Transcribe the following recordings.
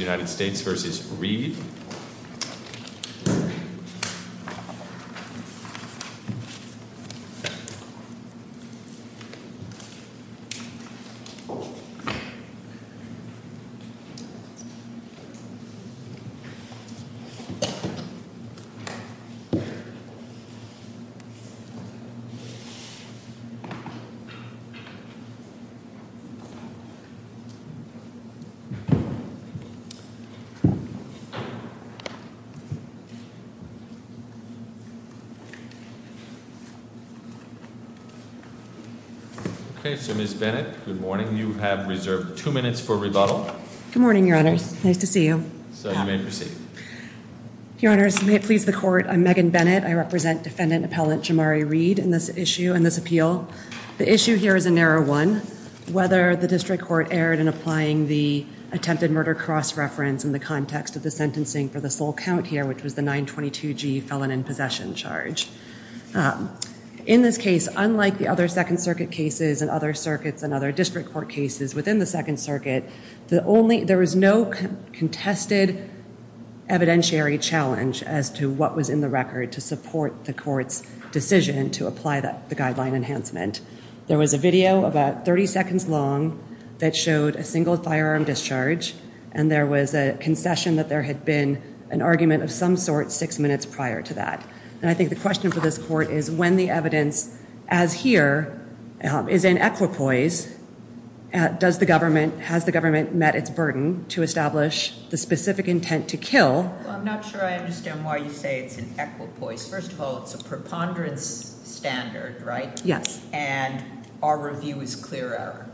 United States versus Reed. Okay, so Ms. Bennett, good morning. You have reserved two minutes for rebuttal. Good morning, Your Honors. Nice to see you. So you may proceed. Your Honors, may it please the Court, I'm Megan Bennett. I represent Defendant Appellant Jamari Reed in this issue, in this appeal. The issue here is a narrow one, whether the District Court erred in applying the attempted murder cross-reference in the context of the sentencing for the sole count here, which was the 922G felon in possession charge. In this case, unlike the other Second Circuit cases and other circuits and other District Court cases within the Second Circuit, there was no contested evidentiary challenge as to what was in the record to support the Court's decision to apply the guideline enhancement. There was a video, about 30 seconds long, that showed a single firearm discharge, and there was a concession that there had been an argument of some sort six minutes prior to that. And I think the question for this Court is, when the evidence, as here, is in equipoise, has the government met its burden to establish the specific intent to kill? Well, I'm not sure I understand why you say it's in equipoise. First of all, it's a preponderance standard, right? Yes. And our review is clear error,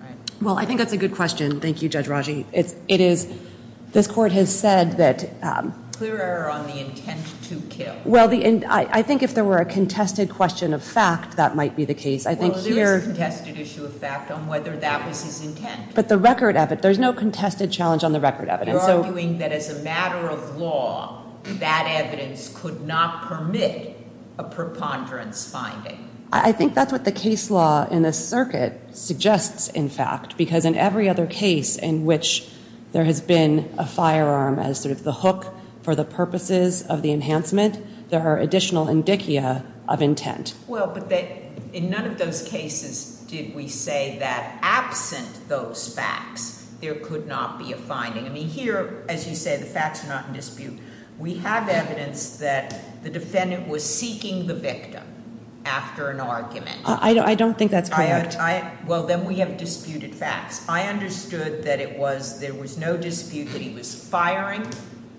right? Well, I think that's a good question. Thank you, Judge Raji. This Court has said that— Clear error on the intent to kill. Well, I think if there were a contested question of fact, that might be the case. I think here— Well, there is a contested issue of fact on whether that was his intent. But the record—there's no contested challenge on the record evidence. And so— You're arguing that as a matter of law, that evidence could not permit a preponderance finding. I think that's what the case law in this circuit suggests, in fact, because in every other case in which there has been a firearm as sort of the hook for the purposes of the enhancement, there are additional indicia of intent. Well, but in none of those cases did we say that absent those facts, there could not be a finding. I mean, here, as you say, the facts are not in dispute. We have evidence that the defendant was seeking the victim after an argument. I don't think that's correct. Well, then we have disputed facts. I understood that it was—there was no dispute that he was firing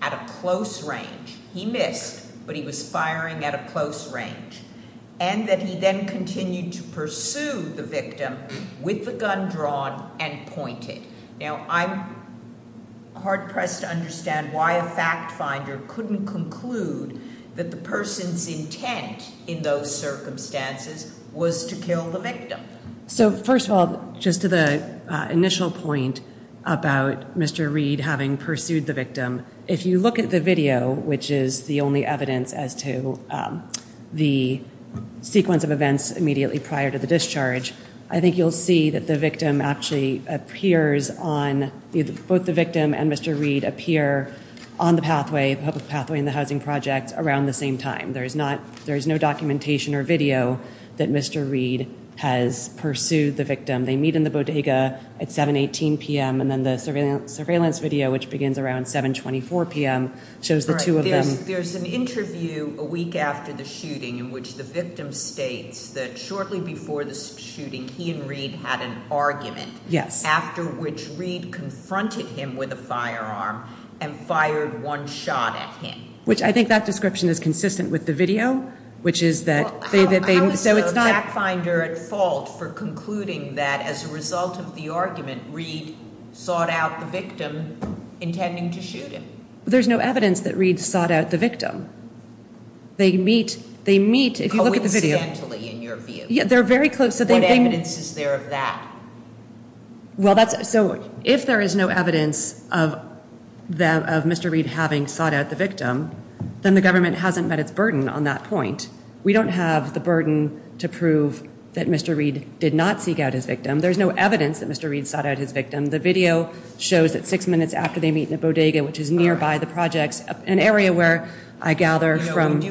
at a close range. He missed, but he was firing at a close range. And that he then continued to pursue the victim with the gun drawn and pointed. Now, I'm hard-pressed to understand why a fact finder couldn't conclude that the person's intent in those circumstances was to kill the victim. So first of all, just to the initial point about Mr. Reed having pursued the victim, if you look at the video, which is the only evidence as to the sequence of events immediately prior to the discharge, I think you'll see that the victim actually appears on—both the victim and Mr. Reed appear on the pathway, public pathway in the housing project, around the same time. There is not—there is no documentation or video that Mr. Reed has pursued the victim. They meet in the bodega at 7.18 p.m., and then the surveillance video, which begins around 7.24 p.m., shows the two of them— he and Reed had an argument, after which Reed confronted him with a firearm and fired one shot at him. Which I think that description is consistent with the video, which is that they— How is the fact finder at fault for concluding that as a result of the argument, Reed sought out the victim, intending to shoot him? There's no evidence that Reed sought out the victim. They meet—they meet, if you look at the video— Coincidentally, in your view. Yeah, they're very close. So they— What evidence is there of that? Well, that's—so if there is no evidence of Mr. Reed having sought out the victim, then the government hasn't met its burden on that point. We don't have the burden to prove that Mr. Reed did not seek out his victim. There's no evidence that Mr. Reed sought out his victim. The video shows that six minutes after they meet in the bodega, which is nearby the projects, an area where I gather from—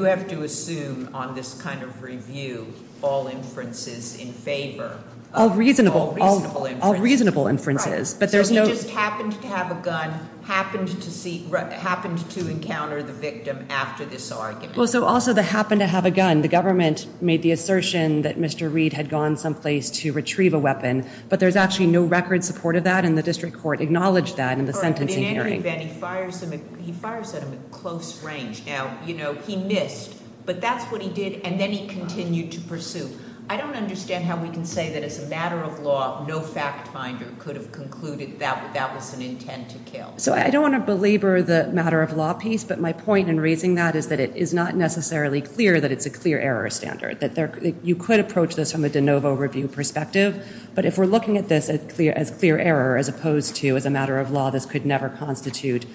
All reasonable— All reasonable inferences. All reasonable inferences. Right. But there's no— So he just happened to have a gun, happened to see—happened to encounter the victim after this argument. Well, so also the happened to have a gun, the government made the assertion that Mr. Reed had gone someplace to retrieve a weapon, but there's actually no record support of that, and the district court acknowledged that in the sentencing hearing. But in any event, he fires him—he fires at him at close range. Now, you know, he missed, but that's what he did, and then he continued to pursue. I don't understand how we can say that as a matter of law, no fact finder could have concluded that that was an intent to kill. So I don't want to belabor the matter of law piece, but my point in raising that is that it is not necessarily clear that it's a clear error standard, that you could approach this from a de novo review perspective. But if we're looking at this as clear error as opposed to as a matter of law, this could never constitute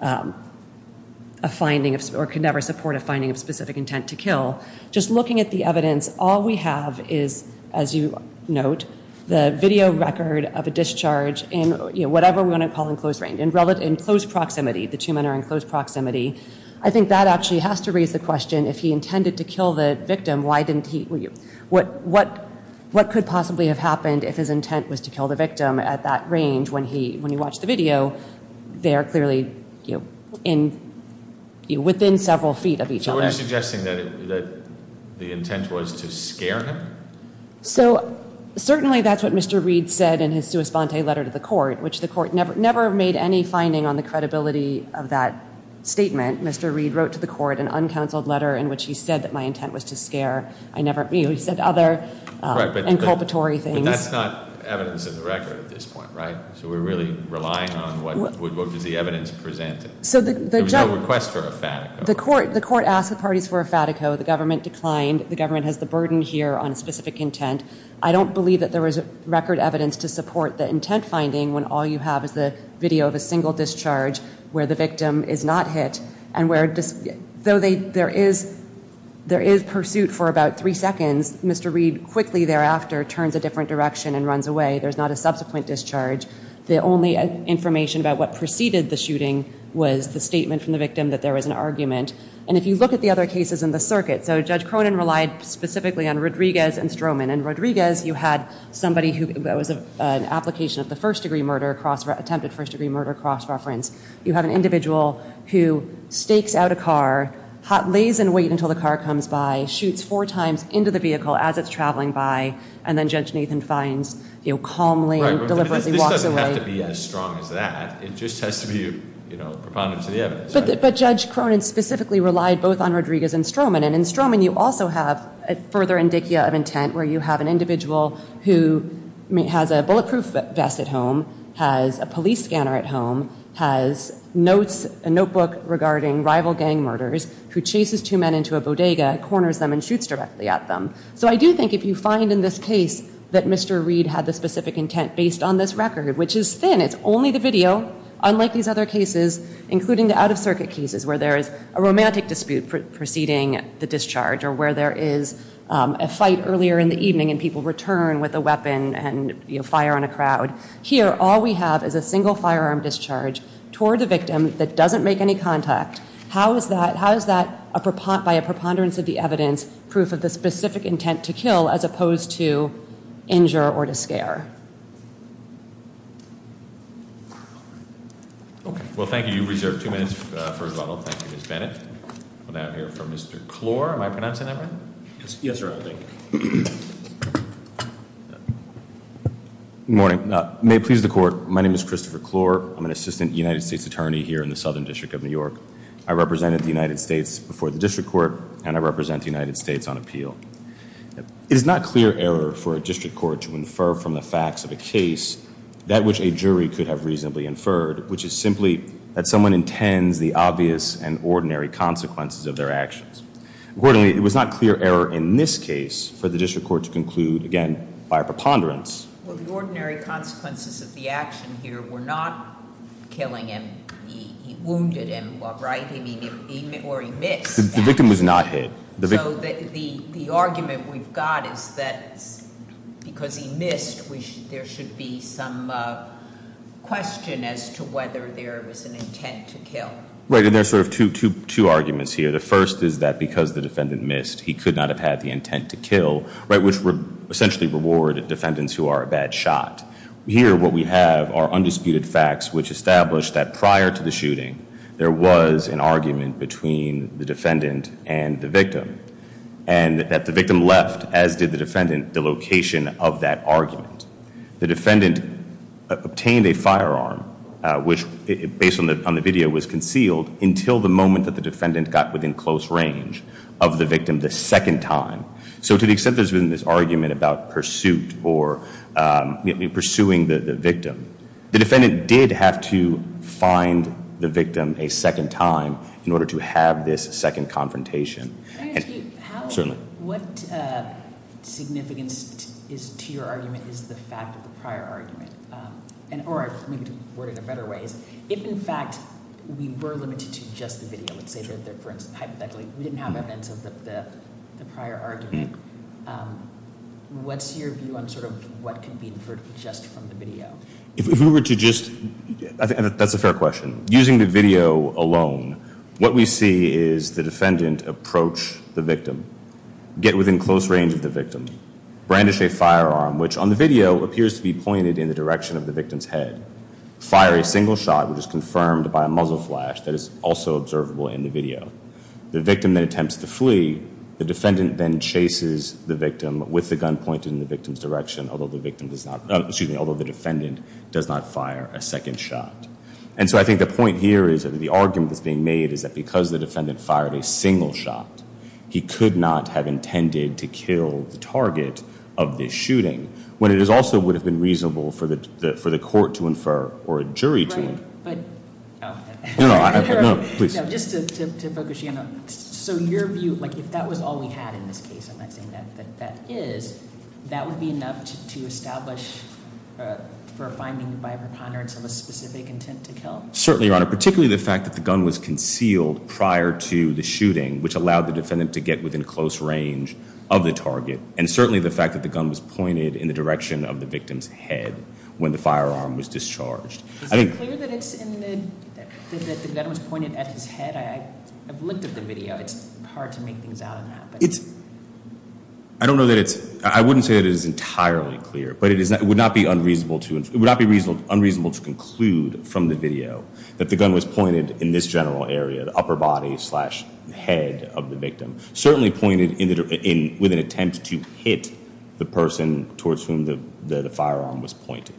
a finding of—or could never support a finding of specific intent to kill. Just looking at the evidence, all we have is, as you note, the video record of a discharge in whatever we want to call in close range—in close proximity. The two men are in close proximity. I think that actually has to raise the question, if he intended to kill the victim, why didn't he—what could possibly have happened if his intent was to kill the victim at that range when he watched the video? They are clearly within several feet of each other. So what are you suggesting? That the intent was to scare him? So certainly that's what Mr. Reed said in his sua sponte letter to the court, which the court never made any finding on the credibility of that statement. Mr. Reed wrote to the court an uncounseled letter in which he said that my intent was to scare. He said other inculpatory things. But that's not evidence in the record at this point, right? So we're really relying on what does the evidence present? There was no request for a fatico. The court asked the parties for a fatico. The government declined. The government has the burden here on specific intent. I don't believe that there was record evidence to support the intent finding when all you have is the video of a single discharge where the victim is not hit and where—though there is pursuit for about three seconds, Mr. Reed quickly thereafter turns a different direction and runs away. There's not a subsequent discharge. The only information about what preceded the shooting was the statement from the victim that there was an argument. And if you look at the other cases in the circuit, so Judge Cronin relied specifically on Rodriguez and Stroman. In Rodriguez, you had somebody who—that was an application of the first-degree murder, attempted first-degree murder cross-reference. You have an individual who stakes out a car, lays in wait until the car comes by, shoots four times into the vehicle as it's traveling by, and then Judge Nathan finds, you know, calmly and deliberately walks away. Right, but this doesn't have to be as strong as that. It just has to be, you know, propondent to the evidence, right? But Judge Cronin specifically relied both on Rodriguez and Stroman. And in Stroman, you also have a further indicia of intent where you have an individual who has a bulletproof vest at home, has a police scanner at home, has notes, a notebook regarding rival gang murders, who chases two men into a bodega, corners them, and shoots directly at them. So I do think if you find in this case that Mr. Reed had the specific intent based on this record, which is thin, it's only the video, unlike these other cases, including the out-of-circuit cases where there is a romantic dispute preceding the discharge or where there is a fight earlier in the evening and people return with a weapon and, you know, fire on a crowd. Here, all we have is a single firearm discharge toward the victim that doesn't make any contact. How is that, by a preponderance of the evidence, proof of the specific intent to kill as opposed to injure or to scare? Okay. Well, thank you. You reserve two minutes for rebuttal. Thank you, Ms. Bennett. We'll now hear from Mr. Klor. Am I pronouncing that right? Yes, Your Honor. Thank you. Good morning. May it please the Court. My name is Christopher Klor. I'm an assistant United States attorney here in the Southern District of New York. I represented the United States before the District Court, and I represent the United Klor is guilty of murder. It is not clear error for a district court to infer from the facts of the case that Mr. Klor is guilty of murder. which a jury could have reasonably inferred, which is simply that someone intends the obvious and ordinary consequences of their actions. Accordingly, it was not clear error in this case for the district court to conclude, again, by a preponderance. Well, the ordinary consequences of the action here were not killing him. He wounded him, right? Or he missed. The victim was not hit. So the argument we've got is that because he missed, there should be some question as to whether there was an intent to kill. Right. And there's sort of two arguments here. The first is that because the defendant missed, he could not have had the intent to kill, right, which would essentially reward defendants who are a bad shot. Here, what we have are undisputed facts which establish that prior to the shooting, there was an argument between the defendant and the victim. And that the victim left, as did the defendant, the location of that argument. The defendant obtained a firearm, which, based on the video, was concealed until the moment that the defendant got within close range of the victim the second time. So to the extent there's been this argument about pursuit or pursuing the victim, the defendant did have to find the victim a second time in order to have this second confrontation. What significance to your argument is the fact of the prior argument? Or maybe to put it in better ways, if in fact we were limited to just the video, let's say hypothetically, we didn't have evidence of the prior argument, what's your view on sort of what could be inferred just from the video? If we were to just, that's a fair question. Using the video alone, what we see is the defendant approach the victim, get within close range of the victim, brandish a firearm, which on the video appears to be pointed in the direction of the victim's head, fire a single shot, which is confirmed by a muzzle flash that is also observable in the video. The victim then attempts to flee. The defendant then chases the victim with the gun pointed in the victim's direction, although the defendant does not fire a second shot. And so I think the point here is that the argument that's being made is that because the defendant fired a single shot, he could not have intended to kill the target of this shooting when it also would have been reasonable for the court to infer or a jury to. No, no, please. So your view, like if that was all we had in this case, I'm not saying that that is, that would be enough to establish for a finding by a preponderance of a specific intent to kill? Certainly, Your Honor, particularly the fact that the gun was concealed prior to the shooting, which allowed the defendant to get within close range of the target, and certainly the fact that the gun was pointed in the direction of the victim's head when the firearm was discharged. Is it clear that it's in the, that the gun was pointed at his head? I've looked at the video. It's hard to make things out of that. I don't know that it's, I wouldn't say it is entirely clear, but it would not be unreasonable to, it would not be unreasonable to conclude from the video that the gun was pointed in this general area, the upper body slash head of the victim. Certainly pointed in, with an attempt to hit the person towards whom the firearm was pointed.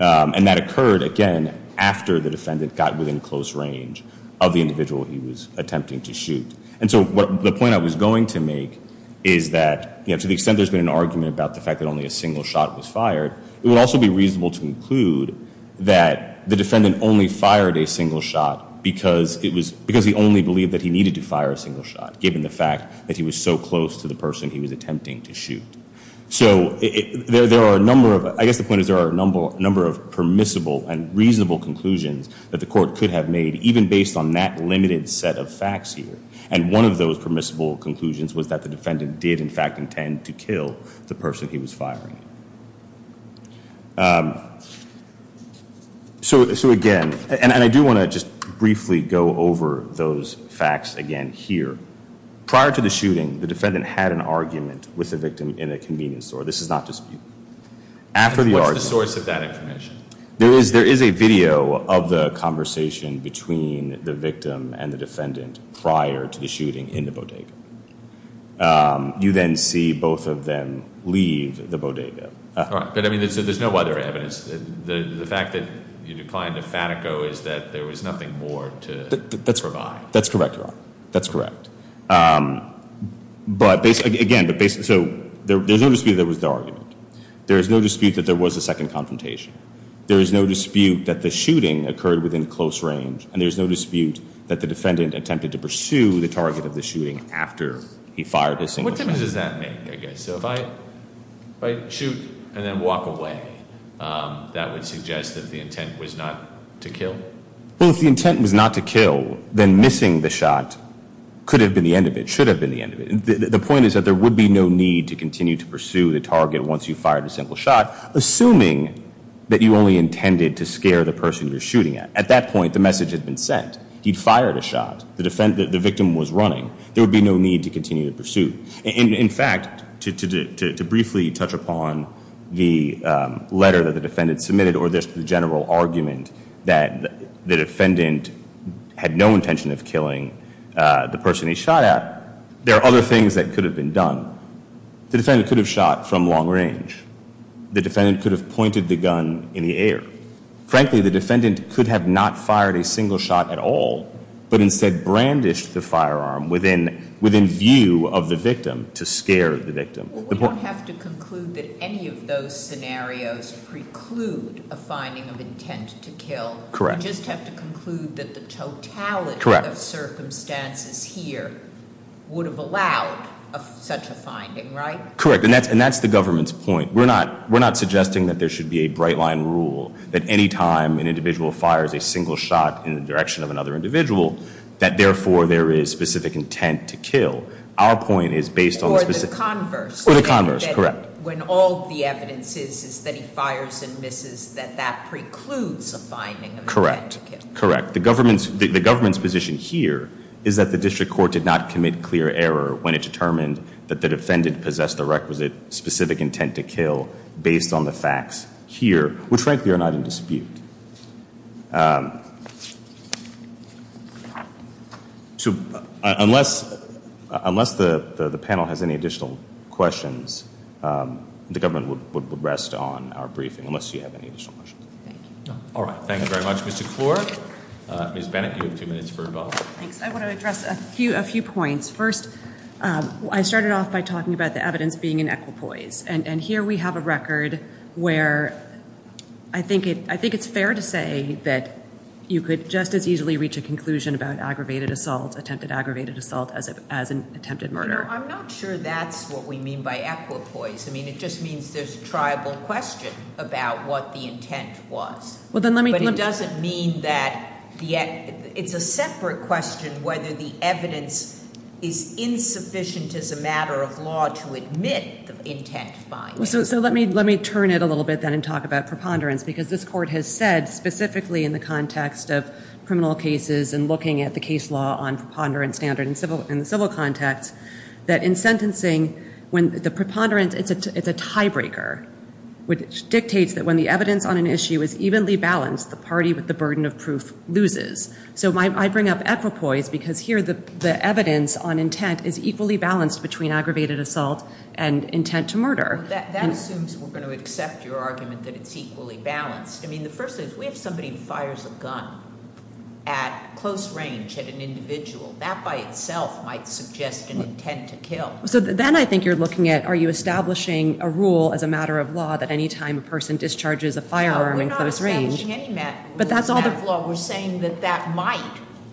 And that occurred, again, after the defendant got within close range of the individual he was attempting to shoot. And so the point I was going to make is that, you know, to the extent there's been an argument about the fact that only a single shot was fired, it would also be reasonable to conclude that the defendant only fired a single shot because it was, because he only believed that he needed to fire a single shot given the fact that he was so close to the person he was attempting to shoot. So there are a number of, I guess the point is there are a number of permissible and reasonable conclusions that the court could have made even based on that limited set of facts here. And one of those permissible conclusions was that the defendant did, in fact, intend to kill the person he was firing. So again, and I do want to just briefly go over those facts again here. Prior to the shooting, the defendant had an argument with the victim in a convenience store. This is not disputed. What's the source of that information? There is a video of the conversation between the victim and the defendant prior to the shooting in the bodega. You then see both of them leave the bodega. But I mean, there's no other evidence. The fact that you declined to Fatico is that there was nothing more to provide. That's correct, Your Honor. That's correct. But again, so there's no dispute that it was the argument. There is no dispute that there was a second confrontation. There is no dispute that the shooting occurred within close range. And there's no dispute that the defendant attempted to pursue the target of the shooting after he fired his single shot. What difference does that make, I guess? So if I shoot and then walk away, that would suggest that the intent was not to kill? Well, if the intent was not to kill, then missing the shot could have been the end of it, should have been the end of it. The point is that there would be no need to continue to pursue the target once you fired a single shot, assuming that you only intended to scare the person you're shooting at. At that point, the message had been sent. He'd fired a shot. The victim was running. There would be no need to continue the pursuit. In fact, to briefly touch upon the letter that the defendant submitted or just the general argument that the defendant had no intention of killing the person he shot at, there are other things that could have been done. The defendant could have shot from long range. The defendant could have pointed the gun in the air. Frankly, the defendant could have not fired a single shot at all but instead brandished the firearm within view of the victim to scare the victim. Well, we don't have to conclude that any of those scenarios preclude a finding of intent to kill. Correct. We just have to conclude that the totality of circumstances here would have allowed such a finding, right? Correct, and that's the government's point. We're not suggesting that there should be a bright line rule that any time an individual fires a single shot in the direction of another individual, that therefore there is specific intent to kill. Our point is based on specific- Or the converse. Or the converse, correct. When all the evidence is that he fires and misses, that that precludes a finding of intent to kill. Correct, correct. The government's position here is that the district court did not commit clear error when it determined that the defendant possessed the requisite specific intent to kill based on the facts here, which frankly are not in dispute. So unless the panel has any additional questions, the government would rest on our briefing unless you have any additional questions. Thank you. All right. Thank you very much, Mr. Klor. Ms. Bennett, you have two minutes for involvement. Thanks. I want to address a few points. First, I started off by talking about the evidence being in equipoise, and here we have a record where I think it's fair to say that you could just as easily reach a conclusion about aggravated assault, attempted aggravated assault, as an attempted murder. I'm not sure that's what we mean by equipoise. I mean, it just means there's a triable question about what the intent was. Well, then let me- It's a separate question whether the evidence is insufficient as a matter of law to admit the intent. So let me turn it a little bit then and talk about preponderance because this court has said specifically in the context of criminal cases and looking at the case law on preponderance standard in the civil context that in sentencing when the preponderance, it's a tiebreaker, which dictates that when the evidence on an issue is evenly balanced, the party with the burden of proof loses. So I bring up equipoise because here the evidence on intent is equally balanced between aggravated assault and intent to murder. That assumes we're going to accept your argument that it's equally balanced. I mean, the first thing is we have somebody who fires a gun at close range at an individual. That by itself might suggest an intent to kill. So then I think you're looking at are you establishing a rule as a matter of law that any time a person discharges a firearm in close range- No, we're not establishing any rule as a matter of law. We're saying that that might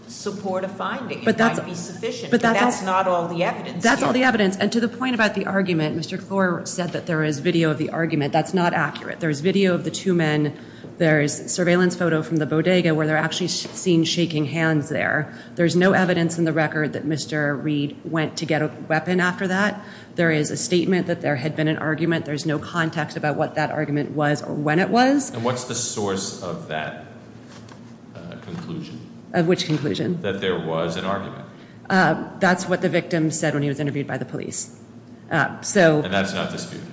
support a finding. It might be sufficient, but that's not all the evidence here. That's all the evidence. And to the point about the argument, Mr. Clore said that there is video of the argument. That's not accurate. There's video of the two men. There's surveillance photo from the bodega where they're actually seen shaking hands there. There's no evidence in the record that Mr. Reed went to get a weapon after that. There is a statement that there had been an argument. There's no context about what that argument was or when it was. And what's the source of that conclusion? Of which conclusion? That there was an argument. That's what the victim said when he was interviewed by the police. And that's not disputed?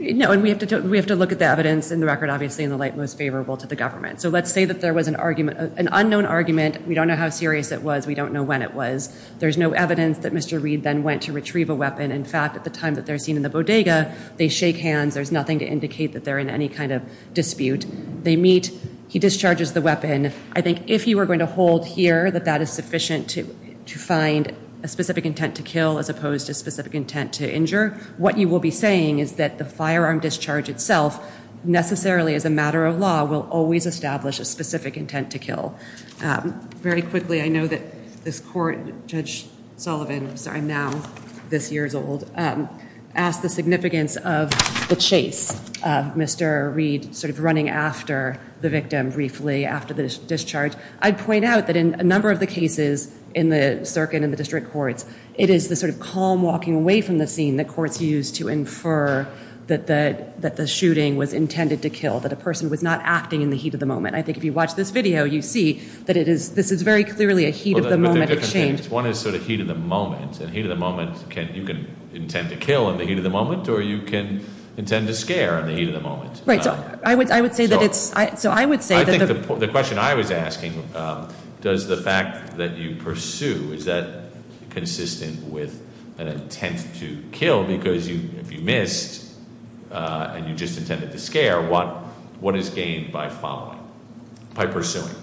No, and we have to look at the evidence in the record, obviously, in the light most favorable to the government. So let's say that there was an argument, an unknown argument. We don't know how serious it was. We don't know when it was. There's no evidence that Mr. Reed then went to retrieve a weapon. In fact, at the time that they're seen in the bodega, they shake hands. There's nothing to indicate that they're in any kind of dispute. They meet. He discharges the weapon. I think if you were going to hold here that that is sufficient to find a specific intent to kill as opposed to specific intent to injure, what you will be saying is that the firearm discharge itself, necessarily as a matter of law, will always establish a specific intent to kill. Very quickly, I know that this court, Judge Sullivan, I'm sorry, I'm now this year's old, asked the significance of the chase of Mr. Reed sort of running after the victim briefly after the discharge. I'd point out that in a number of the cases in the circuit and the district courts, it is the sort of calm walking away from the scene that courts use to infer that the shooting was intended to kill, that a person was not acting in the heat of the moment. I think if you watch this video, you see that this is very clearly a heat of the moment exchange. One is sort of heat of the moment, and heat of the moment, you can intend to kill in the heat of the moment, or you can intend to scare in the heat of the moment. Right, so I would say that it's- I think the question I was asking, does the fact that you pursue, is that consistent with an intent to kill? Because if you missed, and you just intended to scare, what is gained by following, by pursuing?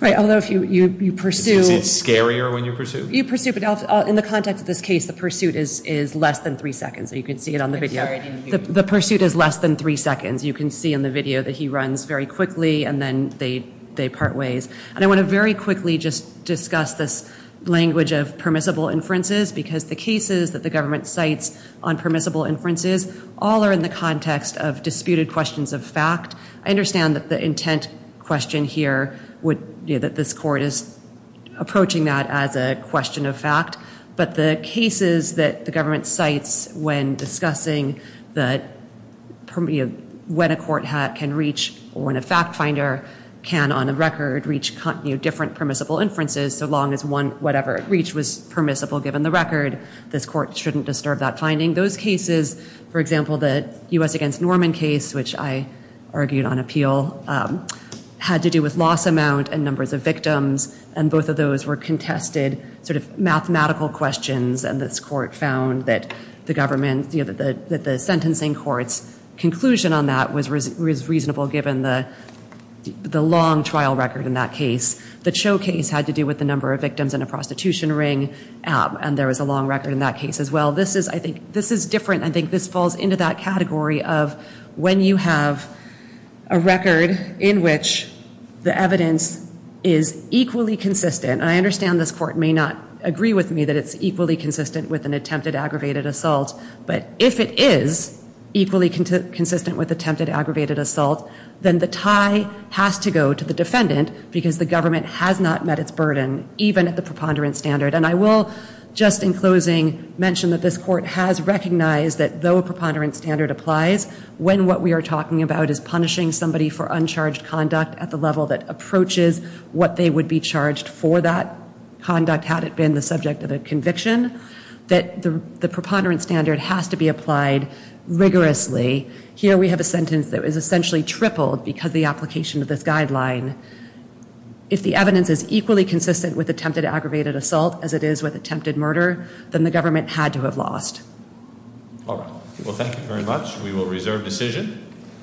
Right, although if you pursue- Is it scarier when you pursue? You pursue, but in the context of this case, the pursuit is less than three seconds. You can see it on the video. I'm sorry, I didn't hear you. The pursuit is less than three seconds. You can see in the video that he runs very quickly, and then they part ways. And I want to very quickly just discuss this language of permissible inferences, because the cases that the government cites on permissible inferences, all are in the context of disputed questions of fact. I understand that the intent question here, that this court is approaching that as a question of fact, but the cases that the government cites when discussing when a court can reach, or when a fact finder can, on a record, reach different permissible inferences, so long as whatever it reached was permissible given the record, this court shouldn't disturb that finding. Those cases, for example, the U.S. against Norman case, which I argued on appeal, had to do with loss amount and numbers of victims, and both of those were contested sort of mathematical questions, and this court found that the sentencing court's conclusion on that was reasonable given the long trial record in that case. The Cho case had to do with the number of victims in a prostitution ring, and there was a long record in that case as well. This is different. I think this falls into that category of when you have a record in which the evidence is equally consistent, and I understand this court may not agree with me that it's equally consistent with an attempted aggravated assault, but if it is equally consistent with attempted aggravated assault, then the tie has to go to the defendant because the government has not met its burden, even at the preponderance standard, and I will, just in closing, mention that this court has recognized that though a preponderance standard applies, when what we are talking about is punishing somebody for uncharged conduct at the level that approaches what they would be charged for that conduct had it been the subject of a conviction, that the preponderance standard has to be applied rigorously. Here we have a sentence that was essentially tripled because of the application of this guideline. If the evidence is equally consistent with attempted aggravated assault as it is with attempted murder, then the government had to have lost. All right. Well, thank you very much. We will reserve decision.